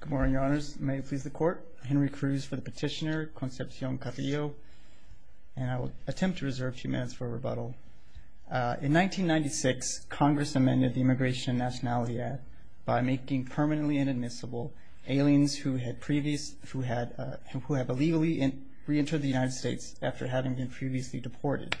Good morning, your honors. May it please the court, Henry Cruz for the petitioner, Concepcion Carrillo, and I will attempt to reserve a few minutes for a rebuttal. In 1996, Congress amended the Immigration and Nationality Act by making permanently inadmissible aliens who had previously, who had, who had illegally reentered the United States after having been previously deported.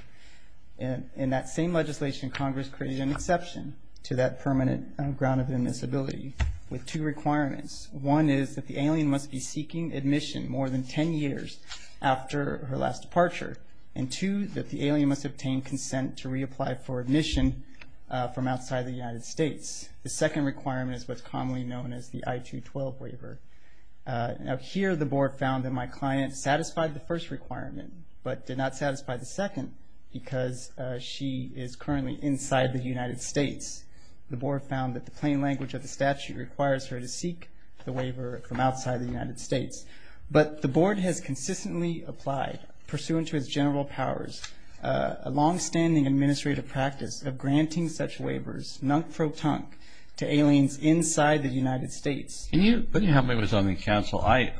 In that same legislation, Congress created an exception to that permanent ground of admissibility with two requirements. One is that the alien must be seeking admission more than 10 years after her last departure. And two, that the alien must obtain consent to reapply for admission from outside the United States. The second requirement is what's commonly known as the I-212 waiver. Now here, the board found that my client satisfied the first requirement, but did not satisfy the second because she is currently inside the United States. The board found that the plain language of the statute requires her to seek the waiver from outside the United States. But the board has consistently applied, pursuant to its general powers, a longstanding administrative practice of granting such waivers, nunk-pro-tunk, to aliens inside the United States. Can you help me with something, counsel? I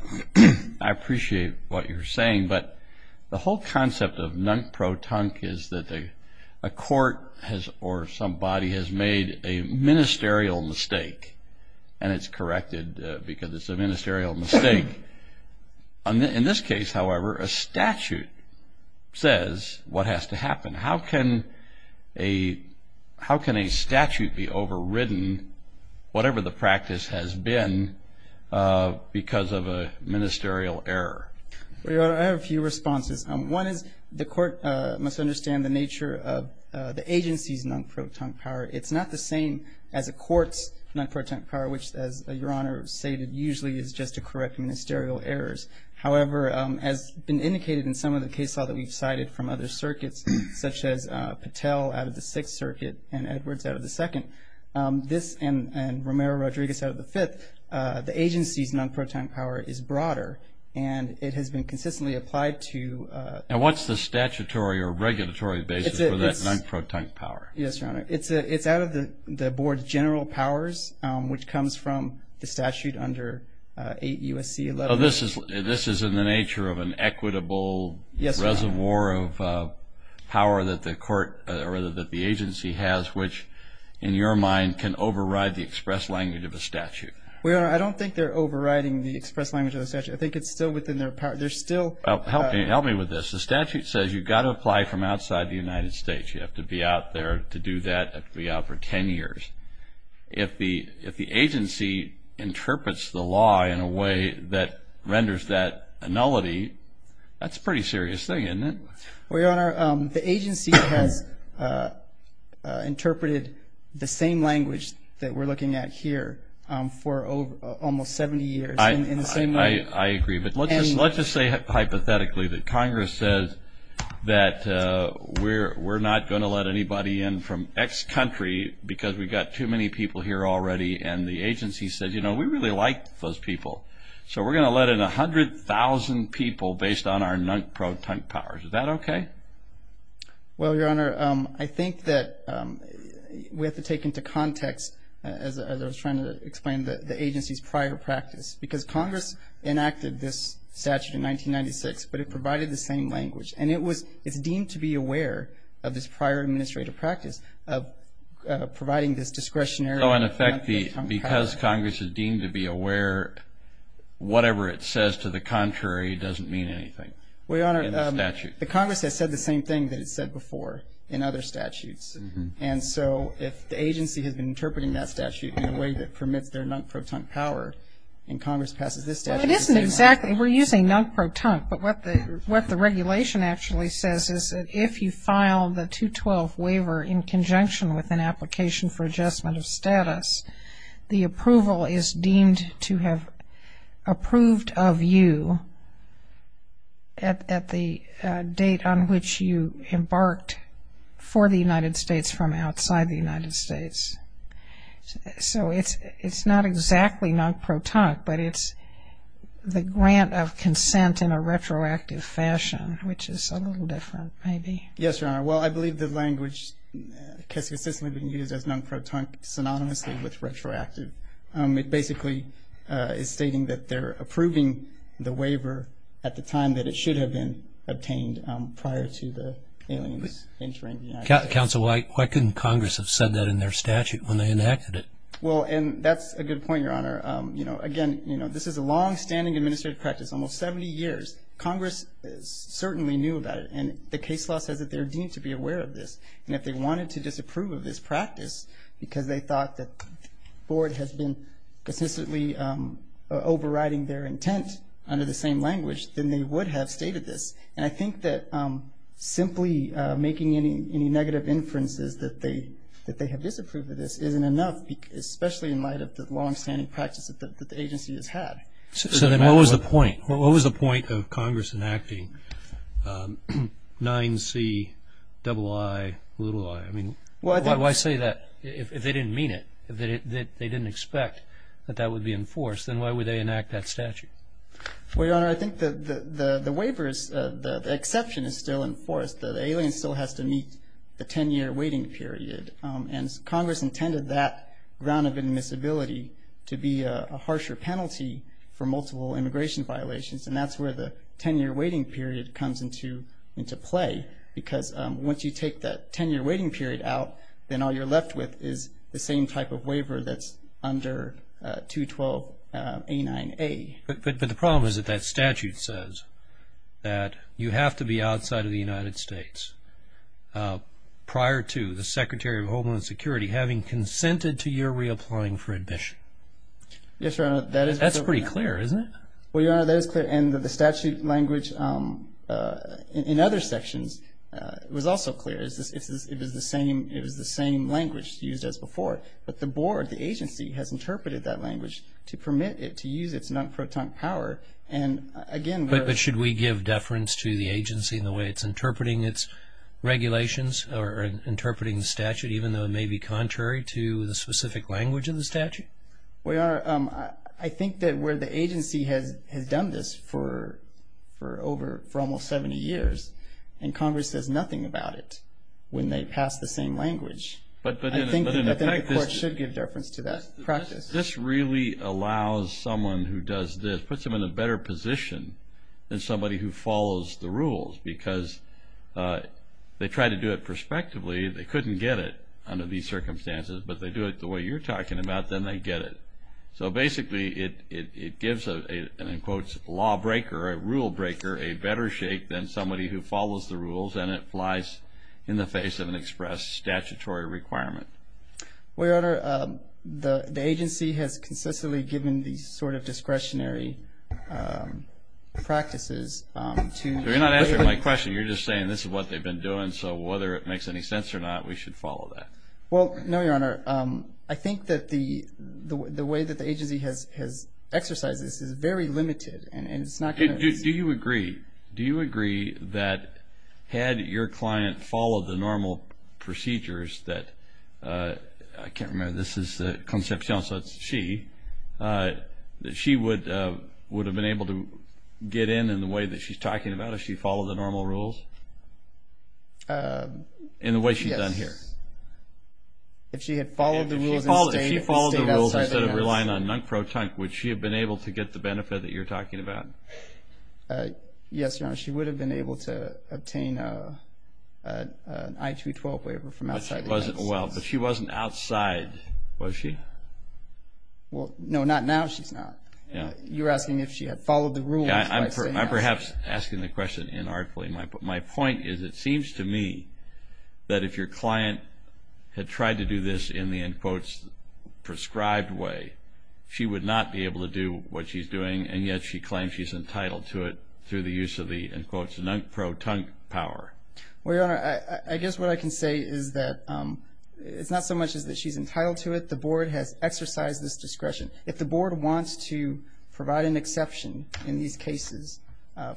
appreciate what you're saying, but the whole concept of nunk-pro-tunk is that a court has, or somebody has made a ministerial mistake, and it's corrected because it's a ministerial mistake. In this case, however, a statute says what has to happen. How can a statute be overridden, whatever the practice has been, because of a ministerial error? Your Honor, I have a few responses. One is the court must understand the nature of the agency's nunk-pro-tunk power. It's not the same as a court's nunk-pro-tunk power, which, as Your Honor stated, usually is just to correct ministerial errors. However, as been indicated in some of the case law that we've cited from other circuits, such as Patel out of the Sixth Circuit and Edwards out of the Second, this and Romero-Rodriguez out of the Fifth, the agency's nunk-pro-tunk power is broader, and it has been consistently applied to... And what's the statutory or regulatory basis for that nunk-pro-tunk power? Yes, Your Honor. It's out of the board's general powers, which comes from the statute under 8 U.S.C. 11... So this is in the nature of an equitable reservoir of power that the agency has, which, in your mind, can override the express language of a statute. Well, Your Honor, I don't think they're overriding the express language of the statute. I think it's still within their power. Help me with this. The statute says you've got to apply from outside the United States. You have to be out there to do that. You have to be out for 10 years. If the agency interprets the law in a way that renders that a nullity, that's a pretty serious thing, isn't it? Well, Your Honor, the agency has interpreted the same language that we're looking at here for almost 70 years in the same way... We're not going to let anybody in from X country because we've got too many people here already, and the agency says, you know, we really like those people. So we're going to let in 100,000 people based on our nunk-pro-tunk powers. Is that okay? Well, Your Honor, I think that we have to take into context, as I was trying to explain, the agency's prior practice, because Congress enacted this statute in 1996, but it provided the same language. And it was deemed to be aware of this prior administrative practice of providing this discretionary nunk-pro-tunk power. So, in effect, because Congress is deemed to be aware, whatever it says to the contrary doesn't mean anything in the statute? Well, Your Honor, the Congress has said the same thing that it's said before in other statutes. And so if the agency has been interpreting that statute in a way that permits their nunk-pro-tunk power, and Congress passes this statute... It isn't exactly, we're using nunk-pro-tunk, but what the regulation actually says is that if you file the 212 waiver in conjunction with an application for adjustment of status, the approval is deemed to have approved of you at the date on which you embarked for the United States from outside the United States. So it's not exactly nunk-pro-tunk, but it's the grant of consent in a retroactive fashion, which is a little different maybe. Yes, Your Honor. Well, I believe the language has consistently been used as nunk-pro-tunk synonymously with retroactive. It basically is stating that they're approving the waiver at the time that it should have been obtained prior to the aliens entering the United States. Counsel, why couldn't Congress have said that in their statute when they enacted it? Well, and that's a good point, Your Honor. Again, this is a longstanding administrative practice, almost 70 years. Congress certainly knew about it, and the case law says that they're deemed to be aware of this. And if they wanted to disapprove of this practice because they thought that the board has been consistently overriding their intent under the same language, then they would have stated this. And I think that simply making any negative inferences that they have disapproved of this isn't enough, especially in light of the longstanding practice that the agency has had. So then what was the point? What was the point of Congress enacting 9Ciii? I mean, why say that if they didn't mean it, that they didn't expect that that would be enforced? Then why would they enact that statute? Well, Your Honor, I think the waiver is the exception is still enforced. The alien still has to meet the 10-year waiting period. And Congress intended that ground of admissibility to be a harsher penalty for multiple immigration violations, and that's where the 10-year waiting period comes into play. Because once you take that 10-year waiting period out, then all you're left with is the same type of waiver that's under 212a9a. But the problem is that that statute says that you have to be outside of the United States prior to the Secretary of Homeland Security having consented to your reapplying for admission. Yes, Your Honor. That's pretty clear, isn't it? Well, Your Honor, that is clear. And the statute language in other sections was also clear. It was the same language used as before. But the board, the agency, has interpreted that language to permit it to use its non-proton power. But should we give deference to the agency in the way it's interpreting its regulations or interpreting the statute, even though it may be contrary to the specific language of the statute? Well, Your Honor, I think that where the agency has done this for almost 70 years, and Congress says nothing about it when they pass the same language, I think the court should give deference to that practice. This really allows someone who does this, puts them in a better position than somebody who follows the rules because they try to do it prospectively. They couldn't get it under these circumstances. But they do it the way you're talking about, then they get it. So basically, it gives a, in quotes, law breaker, a rule breaker, a better shake than somebody who follows the rules, and it applies in the face of an express statutory requirement. Well, Your Honor, the agency has consistently given these sort of discretionary practices to the way that... You're not answering my question. You're just saying this is what they've been doing, so whether it makes any sense or not, we should follow that. Well, no, Your Honor. I think that the way that the agency has exercised this is very limited, and it's not going to... Do you agree that had your client followed the normal procedures that... I can't remember, this is Concepcion, so it's she, that she would have been able to get in in the way that she's talking about if she followed the normal rules? Yes. In the way she's done here? If she had followed the rules and stayed outside... If she followed the rules instead of relying on nunk-pro-tunk, would she have been able to get the benefit that you're talking about? Yes, Your Honor. She would have been able to obtain an I-212 waiver from outside the agency. But she wasn't outside, was she? Well, no, not now she's not. You're asking if she had followed the rules by staying outside. I'm perhaps asking the question inarticulately. My point is it seems to me that if your client had tried to do this in the, in quotes, prescribed way, she would not be able to do what she's doing, and yet she claims she's entitled to it through the use of the, in quotes, nunk-pro-tunk power. Well, Your Honor, I guess what I can say is that it's not so much that she's entitled to it. The board has exercised this discretion. If the board wants to provide an exception in these cases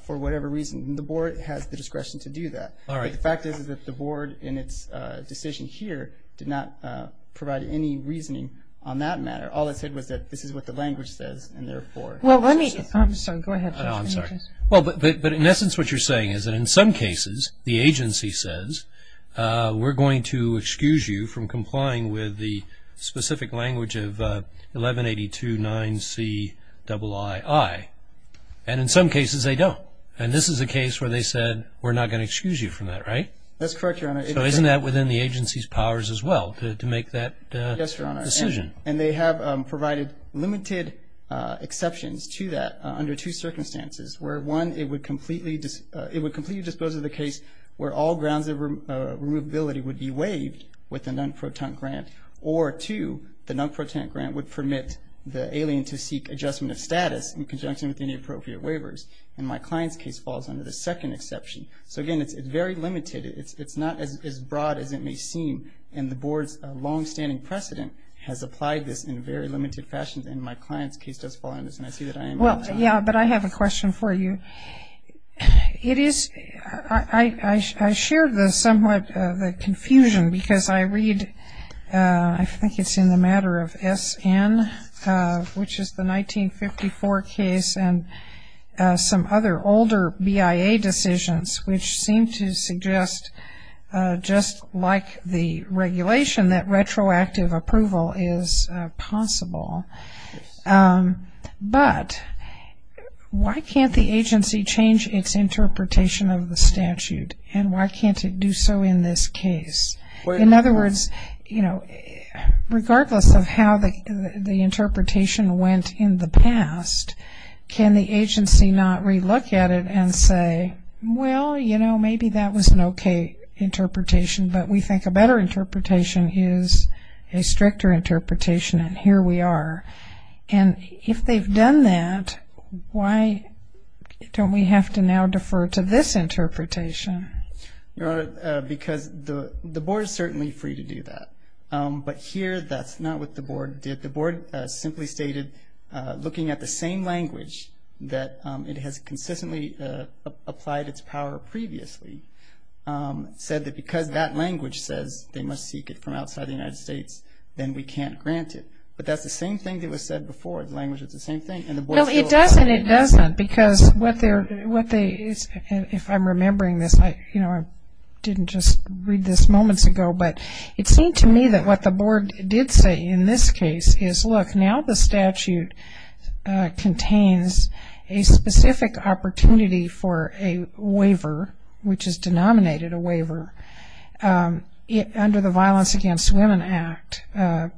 for whatever reason, the board has the discretion to do that. All right. But the fact is that the board in its decision here did not provide any reasoning on that matter. All it said was that this is what the language says, and therefore. Well, let me. I'm sorry. Go ahead. No, I'm sorry. Well, but in essence what you're saying is that in some cases the agency says, we're going to excuse you from complying with the specific language of 1182-9C-II-I. And in some cases they don't. And this is a case where they said we're not going to excuse you from that, right? That's correct, Your Honor. So isn't that within the agency's powers as well to make that decision? Yes, Your Honor. And they have provided limited exceptions to that under two circumstances, where, one, it would completely dispose of the case where all grounds of removability would be waived with a non-proton grant, or, two, the non-proton grant would permit the alien to seek adjustment of status in conjunction with any appropriate waivers. And my client's case falls under the second exception. So, again, it's very limited. It's not as broad as it may seem, and the board's longstanding precedent has applied this in a very limited fashion. And my client's case does fall under this, and I see that I am out of time. Yeah, but I have a question for you. It is ‑‑ I share the somewhat ‑‑ the confusion because I read, I think it's in the matter of SN, which is the 1954 case, and some other older BIA decisions which seem to suggest, just like the regulation, that retroactive approval is possible. But why can't the agency change its interpretation of the statute, and why can't it do so in this case? In other words, you know, regardless of how the interpretation went in the past, can the agency not relook at it and say, well, you know, maybe that was an okay interpretation, but we think a better interpretation is a stricter interpretation, and here we are. And if they've done that, why don't we have to now defer to this interpretation? Your Honor, because the board is certainly free to do that, but here that's not what the board did. The board simply stated, looking at the same language, that it has consistently applied its power previously, said that because that language says they must seek it from outside the United States, then we can't grant it. But that's the same thing that was said before. The language is the same thing. No, it doesn't, it doesn't, because what they're, if I'm remembering this, you know, I didn't just read this moments ago, but it seemed to me that what the board did say in this case is, look, now the statute contains a specific opportunity for a waiver, which is denominated a waiver, under the Violence Against Women Act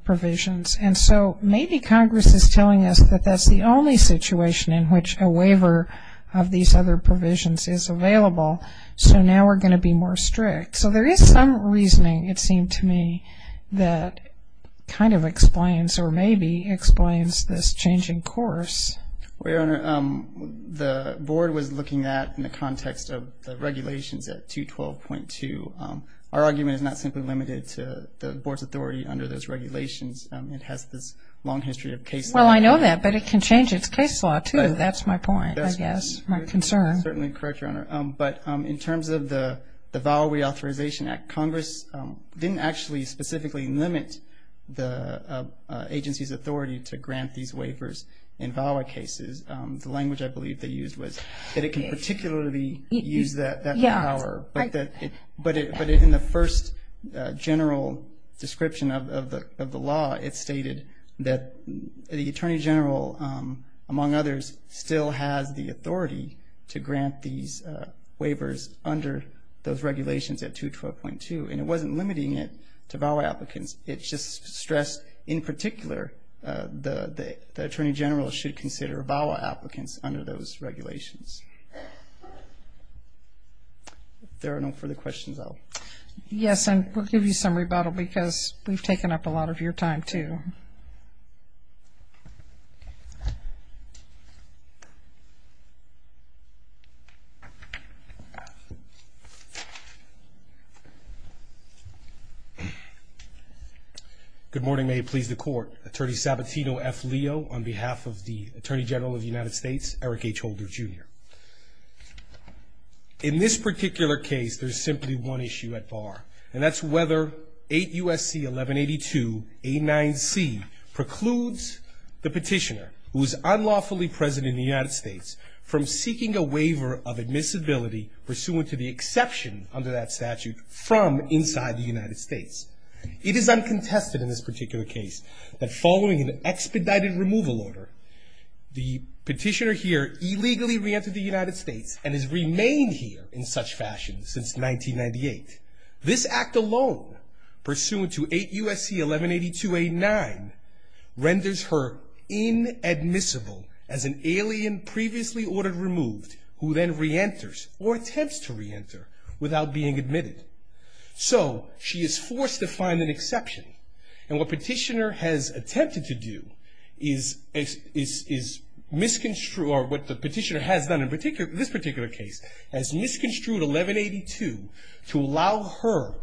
provisions. And so maybe Congress is telling us that that's the only situation in which a waiver of these other provisions is available, so now we're going to be more strict. So there is some reasoning, it seemed to me, that kind of explains or maybe explains this changing course. Well, Your Honor, the board was looking at, in the context of the regulations at 212.2, our argument is not simply limited to the board's authority under those regulations. It has this long history of case law. Well, I know that, but it can change its case law, too. That's my point, I guess, my concern. That's certainly correct, Your Honor. But in terms of the VAWA Reauthorization Act, Congress didn't actually specifically limit the agency's authority to grant these waivers. In VAWA cases, the language I believe they used was that it can particularly use that power. But in the first general description of the law, it stated that the Attorney General, among others, still has the authority to grant these waivers under those regulations at 212.2, and it wasn't limiting it to VAWA applicants. It just stressed, in particular, the Attorney General should consider VAWA applicants under those regulations. If there are no further questions, I'll... Yes, and we'll give you some rebuttal because we've taken up a lot of your time, too. Good morning. May it please the Court. Attorney Sabatino F. Leo on behalf of the Attorney General of the United States, Eric H. Holder, Jr. In this particular case, there's simply one issue at bar, and that's whether 8 U.S.C. 1182.89c precludes the petitioner, who is unlawfully present in the United States, from seeking a waiver of admissibility pursuant to the exception, under that statute, from inside the United States. It is uncontested in this particular case that following an expedited removal order, the petitioner here illegally reentered the United States and has remained here in such fashion since 1998. This act alone, pursuant to 8 U.S.C. 1182.89, renders her inadmissible as an alien previously ordered removed, who then reenters, or attempts to reenter, without being admitted. So, she is forced to find an exception. And what petitioner has attempted to do is misconstrue, or what the petitioner has done in this particular case, has misconstrued 1182 to allow her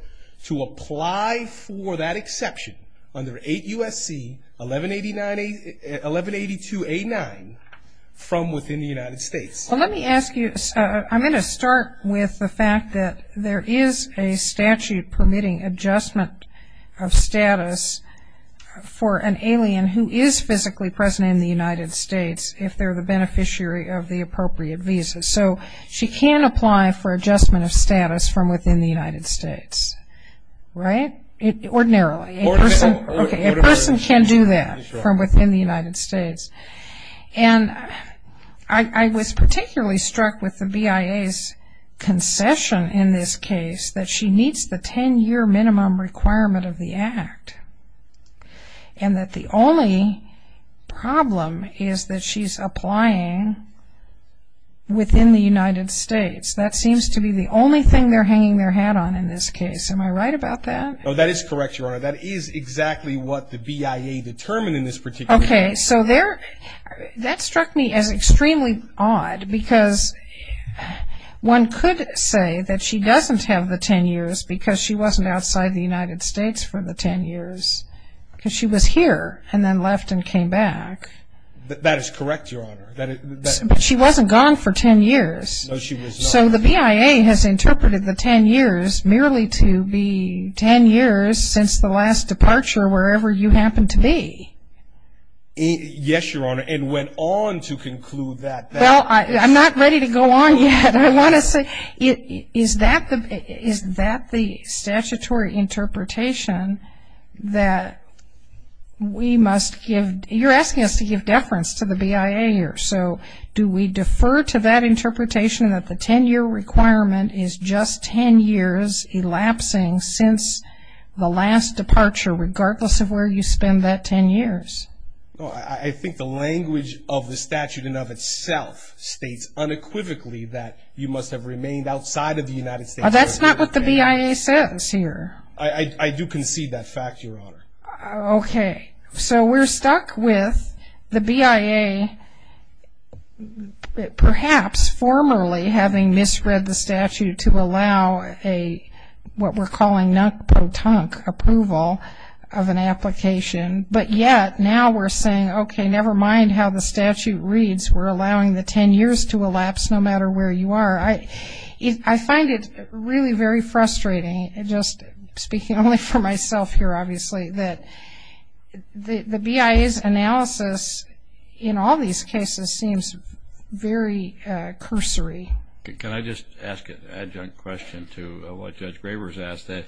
to apply for that exception under 8 U.S.C. 1182.89 from within the United States. Well, let me ask you. I'm going to start with the fact that there is a statute permitting adjustment of status for an alien who is physically present in the United States, if they're the beneficiary of the appropriate visa. So, she can apply for adjustment of status from within the United States, right? Ordinarily. A person can do that from within the United States. And I was particularly struck with the BIA's concession in this case, that she needs the 10-year minimum requirement of the act, and that the only problem is that she's applying within the United States. That seems to be the only thing they're hanging their hat on in this case. Am I right about that? Oh, that is correct, Your Honor. That is exactly what the BIA determined in this particular case. Okay. So, that struck me as extremely odd, because one could say that she doesn't have the 10 years because she wasn't outside the United States for the 10 years, because she was here and then left and came back. That is correct, Your Honor. But she wasn't gone for 10 years. So, the BIA has interpreted the 10 years merely to be 10 years since the last departure wherever you happened to be. Yes, Your Honor. And went on to conclude that. Well, I'm not ready to go on yet. I want to say, is that the statutory interpretation that we must give? You're asking us to give deference to the BIA here. So, do we defer to that interpretation, that the 10-year requirement is just 10 years elapsing since the last departure, regardless of where you spend that 10 years? I think the language of the statute in and of itself states unequivocally that you must have remained outside of the United States. That's not what the BIA says here. I do concede that fact, Your Honor. Okay. So, we're stuck with the BIA perhaps formerly having misread the statute to allow what we're calling non-proton approval of an application, but yet now we're saying, okay, never mind how the statute reads. We're allowing the 10 years to elapse no matter where you are. I find it really very frustrating, just speaking only for myself here, obviously, that the BIA's analysis in all these cases seems very cursory. Can I just ask an adjunct question to what Judge Graber has asked, that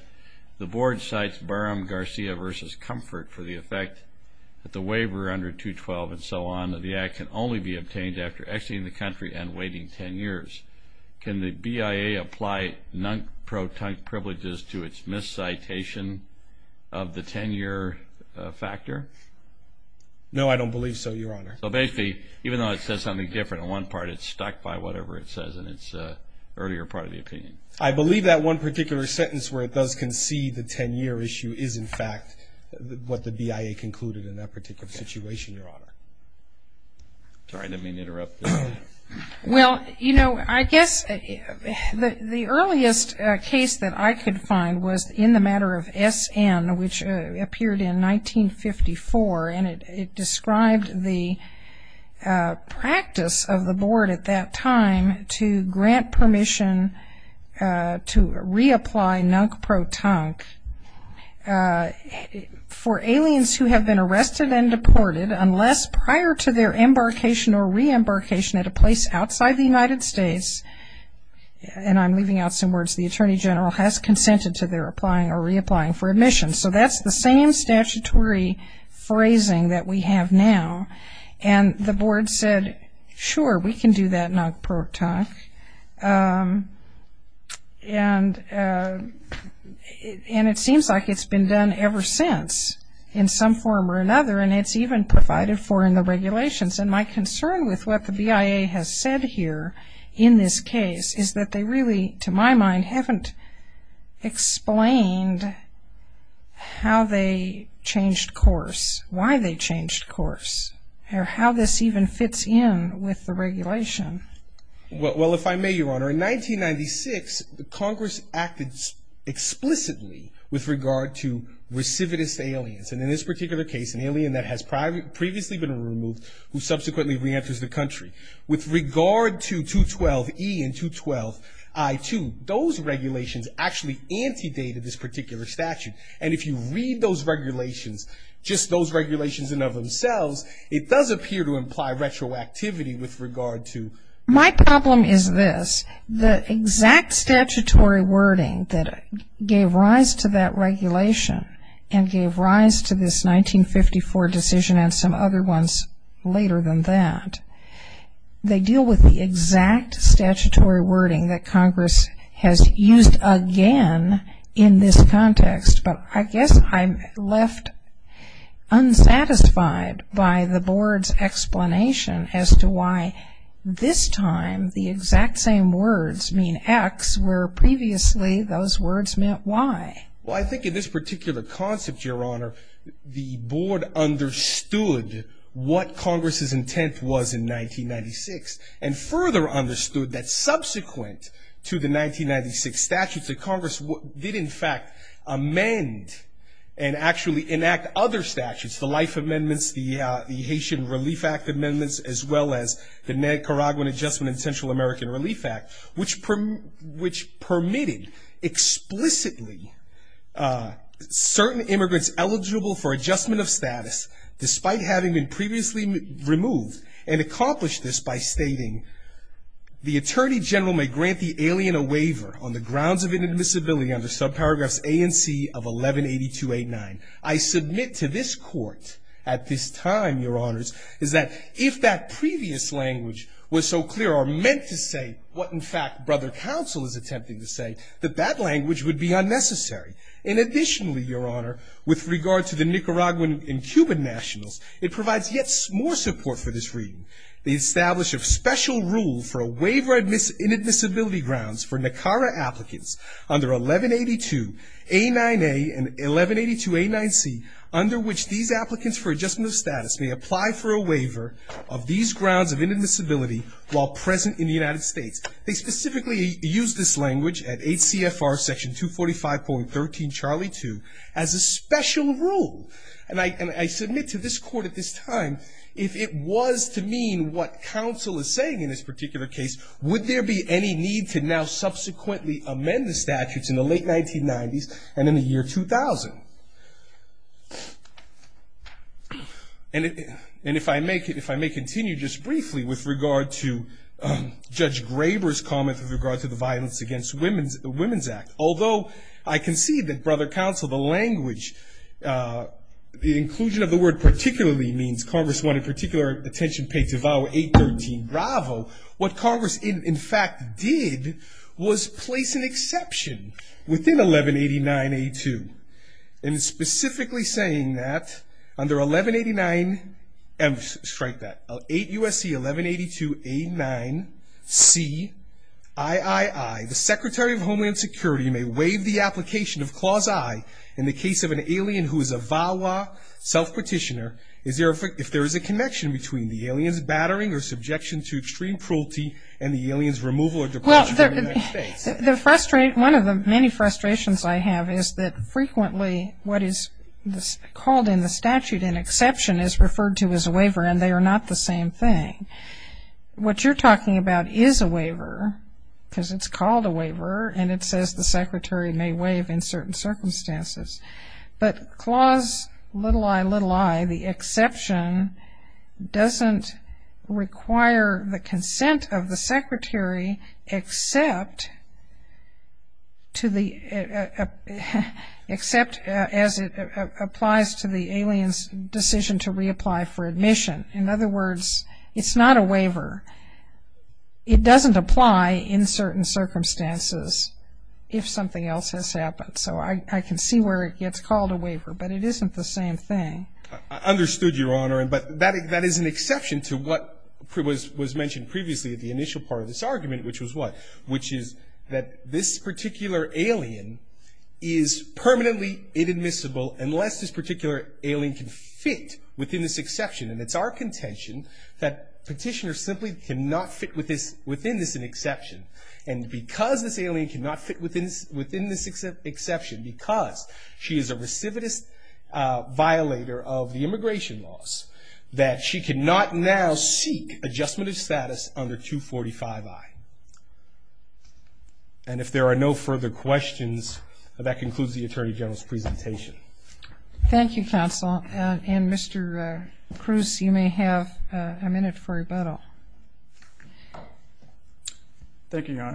the board cites Barham-Garcia v. Comfort for the effect that the waiver under 212 and so on of the act can only be obtained after exiting the country and waiting 10 years. Can the BIA apply non-proton privileges to its miscitation of the 10-year factor? No, I don't believe so, Your Honor. So, basically, even though it says something different on one part, it's stuck by whatever it says in its earlier part of the opinion. I believe that one particular sentence where it does concede the 10-year issue is, in fact, what the BIA concluded in that particular situation, Your Honor. Sorry to have interrupted. Well, you know, I guess the earliest case that I could find was in the matter of SN, which appeared in 1954, and it described the practice of the board at that time to grant permission to reapply non-proton for aliens who have been arrested and deported unless prior to their embarkation or re-embarkation at a place outside the United States, and I'm leaving out some words, the Attorney General has consented to their applying or reapplying for admission. So that's the same statutory phrasing that we have now. And the board said, sure, we can do that non-proton, and it seems like it's been done ever since in some form or another, and it's even provided for in the regulations. And my concern with what the BIA has said here in this case is that they really, to my mind, haven't explained how they changed course, why they changed course, or how this even fits in with the regulation. Well, if I may, Your Honor, in 1996, Congress acted explicitly with regard to recidivist aliens, and in this particular case, an alien that has previously been removed who subsequently reenters the country. With regard to 212E and 212I2, those regulations actually antedated this particular statute. And if you read those regulations, just those regulations in and of themselves, it does appear to imply retroactivity with regard to. My problem is this, the exact statutory wording that gave rise to that regulation and gave rise to this 1954 decision and some other ones later than that, they deal with the exact statutory wording that Congress has used again in this context. But I guess I'm left unsatisfied by the board's explanation as to why this time the exact same words mean X where previously those words meant Y. Well, I think in this particular concept, Your Honor, the board understood what Congress's intent was in 1996 and further understood that subsequent to the 1996 statutes, that Congress did in fact amend and actually enact other statutes, the Life Amendments, the Haitian Relief Act Amendments, as well as the Nicaraguan Adjustment and Central American Relief Act, which permitted explicitly certain immigrants eligible for adjustment of status despite having been previously removed, and accomplished this by stating the attorney general may grant the alien a waiver on the grounds of inadmissibility under subparagraphs A and C of 1182.89. I submit to this court at this time, Your Honors, is that if that previous language was so clear or meant to say what in fact Brother Counsel is attempting to say, that that language would be unnecessary. And additionally, Your Honor, with regard to the Nicaraguan and Cuban nationals, it provides yet more support for this reading. They establish a special rule for a waiver of inadmissibility grounds for NACARA applicants under 1182.89A and 1182.89C, under which these applicants for adjustment of status may apply for a waiver of these grounds of inadmissibility while present in the United States. They specifically use this language at 8 CFR section 245.13 Charlie 2 as a special rule. And I submit to this court at this time, if it was to mean what Counsel is saying in this particular case, would there be any need to now subsequently amend the statutes in the late 1990s and in the year 2000? And if I may continue just briefly with regard to Judge Graber's comment with regard to the Violence Against Women's Act. Although I concede that Brother Counsel, the language, the inclusion of the word particularly means Congress wanted particular attention paid to VAWA 813 Bravo, what Congress in fact did was place an exception within 1189A2. And specifically saying that under 1189, strike that, 8 USC 1182.89C III, the Secretary of Homeland Security may waive the application of Clause I in the case of an alien who is a VAWA self-petitioner if there is a connection between the alien's battering or subjection to extreme cruelty and the alien's removal or departure from the United States. One of the many frustrations I have is that frequently what is called in the statute an exception is referred to as a waiver and they are not the same thing. What you're talking about is a waiver because it's called a waiver and it says the Secretary may waive in certain circumstances. But Clause I, the exception doesn't require the consent of the Secretary except as it applies to the alien's decision to reapply for admission. In other words, it's not a waiver. It doesn't apply in certain circumstances if something else has happened. So I can see where it gets called a waiver. But it isn't the same thing. I understood, Your Honor. But that is an exception to what was mentioned previously at the initial part of this argument, which was what? Which is that this particular alien is permanently inadmissible unless this particular alien can fit within this exception. And it's our contention that petitioners simply cannot fit within this exception. And because this alien cannot fit within this exception, because she is a recidivist violator of the immigration laws, that she cannot now seek adjustment of status under 245I. And if there are no further questions, that concludes the Attorney General's presentation. Thank you, Counsel. And, Mr. Cruz, you may have a minute for rebuttal. Thank you, Your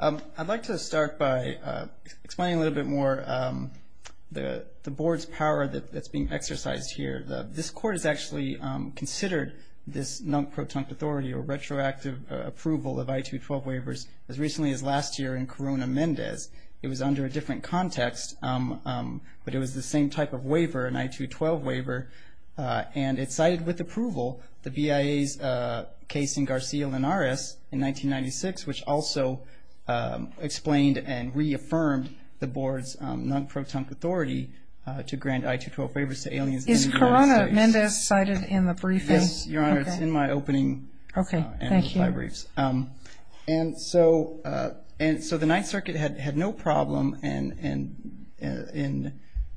Honor. I'd like to start by explaining a little bit more the Board's power that's being exercised here. This Court has actually considered this non-protunct authority or retroactive approval of I-212 waivers as recently as last year in Corona-Mendez. It was under a different context, but it was the same type of waiver, an I-212 waiver, and it cited with approval the BIA's case in Garcia-Lenares in 1996, which also explained and reaffirmed the Board's non-protunct authority to grant I-212 waivers to aliens in the United States. Is Corona-Mendez cited in the briefing? Yes, Your Honor, it's in my opening and my briefs. Okay, thank you. And so the Ninth Circuit had no problem in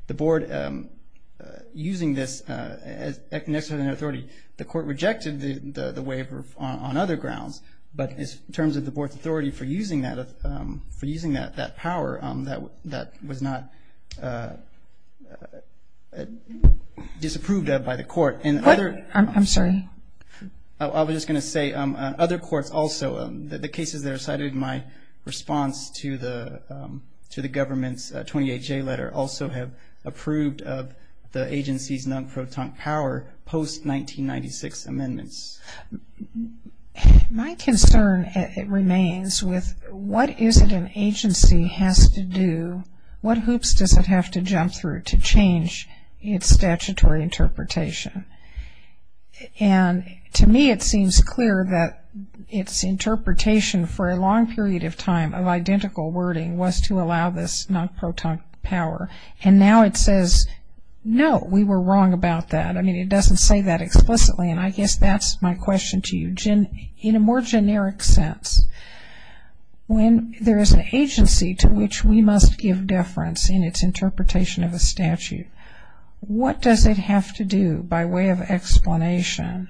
the Board using this as necessary authority. The Court rejected the waiver on other grounds, but in terms of the Board's authority for using that power, that was not disapproved of by the Court. What? I'm sorry? I was just going to say other courts also, the cases that are cited in my response to the government's 28-J letter also have approved of the agency's non-protunct power post-1996 amendments. My concern remains with what is it an agency has to do, what hoops does it have to jump through to change its statutory interpretation? And to me it seems clear that its interpretation for a long period of time of identical wording was to allow this non-protunct power. And now it says, no, we were wrong about that. I mean, it doesn't say that explicitly, and I guess that's my question to you. In a more generic sense, when there is an agency to which we must give deference in its interpretation of a statute, what does it have to do by way of explanation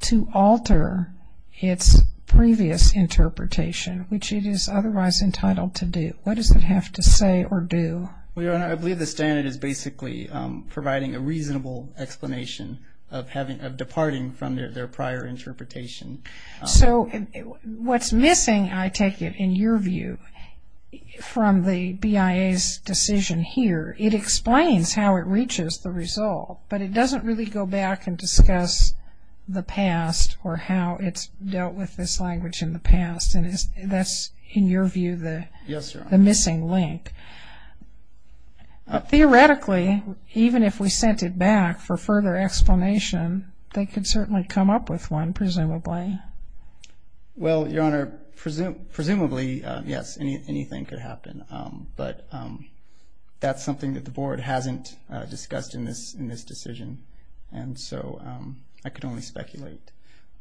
to alter its previous interpretation, which it is otherwise entitled to do? What does it have to say or do? Well, Your Honor, I believe the standard is basically providing a reasonable explanation of departing from their prior interpretation. So what's missing, I take it, in your view, from the BIA's decision here, it explains how it reaches the result, but it doesn't really go back and discuss the past or how it's dealt with this language in the past. And that's, in your view, the missing link. Yes, Your Honor. Theoretically, even if we sent it back for further explanation, they could certainly come up with one, presumably. Well, Your Honor, presumably, yes, anything could happen. But that's something that the Board hasn't discussed in this decision, and so I could only speculate.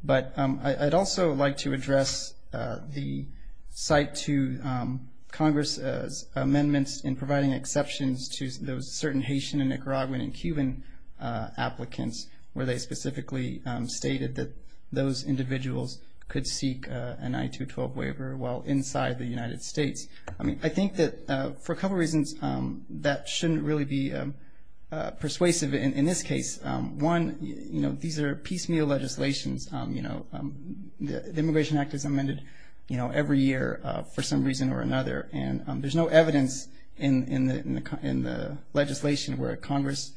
But I'd also like to address the cite to Congress's amendments in providing exceptions to those certain Haitian and Nicaraguan and Cuban applicants where they specifically stated that those individuals could seek an I-212 waiver while inside the United States. I mean, I think that for a couple of reasons that shouldn't really be persuasive in this case. One, these are piecemeal legislations. The Immigration Act is amended every year for some reason or another, and there's no evidence in the legislation where Congress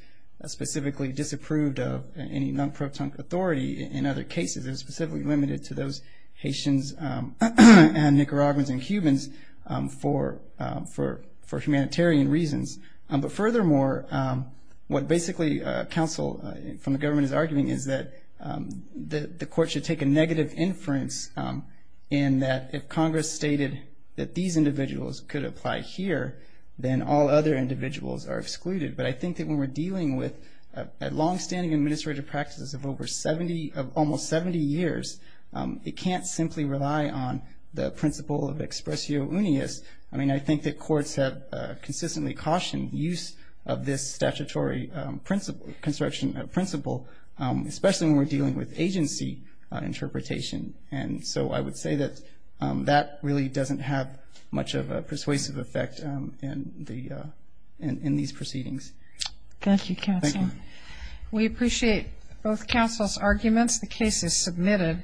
specifically disapproved of any non-pro-tunk authority in other cases. It was specifically limited to those Haitians and Nicaraguans and Cubans for humanitarian reasons. But furthermore, what basically counsel from the government is arguing is that the court should take a negative inference in that if Congress stated that these individuals could apply here, then all other individuals are excluded. But I think that when we're dealing with longstanding administrative practices of almost 70 years, it can't simply rely on the principle of expressio unius. I mean, I think that courts have consistently cautioned use of this statutory construction principle, especially when we're dealing with agency interpretation. And so I would say that that really doesn't have much of a persuasive effect in these proceedings. Thank you, counsel. Thank you. We appreciate both counsel's arguments. The case is submitted.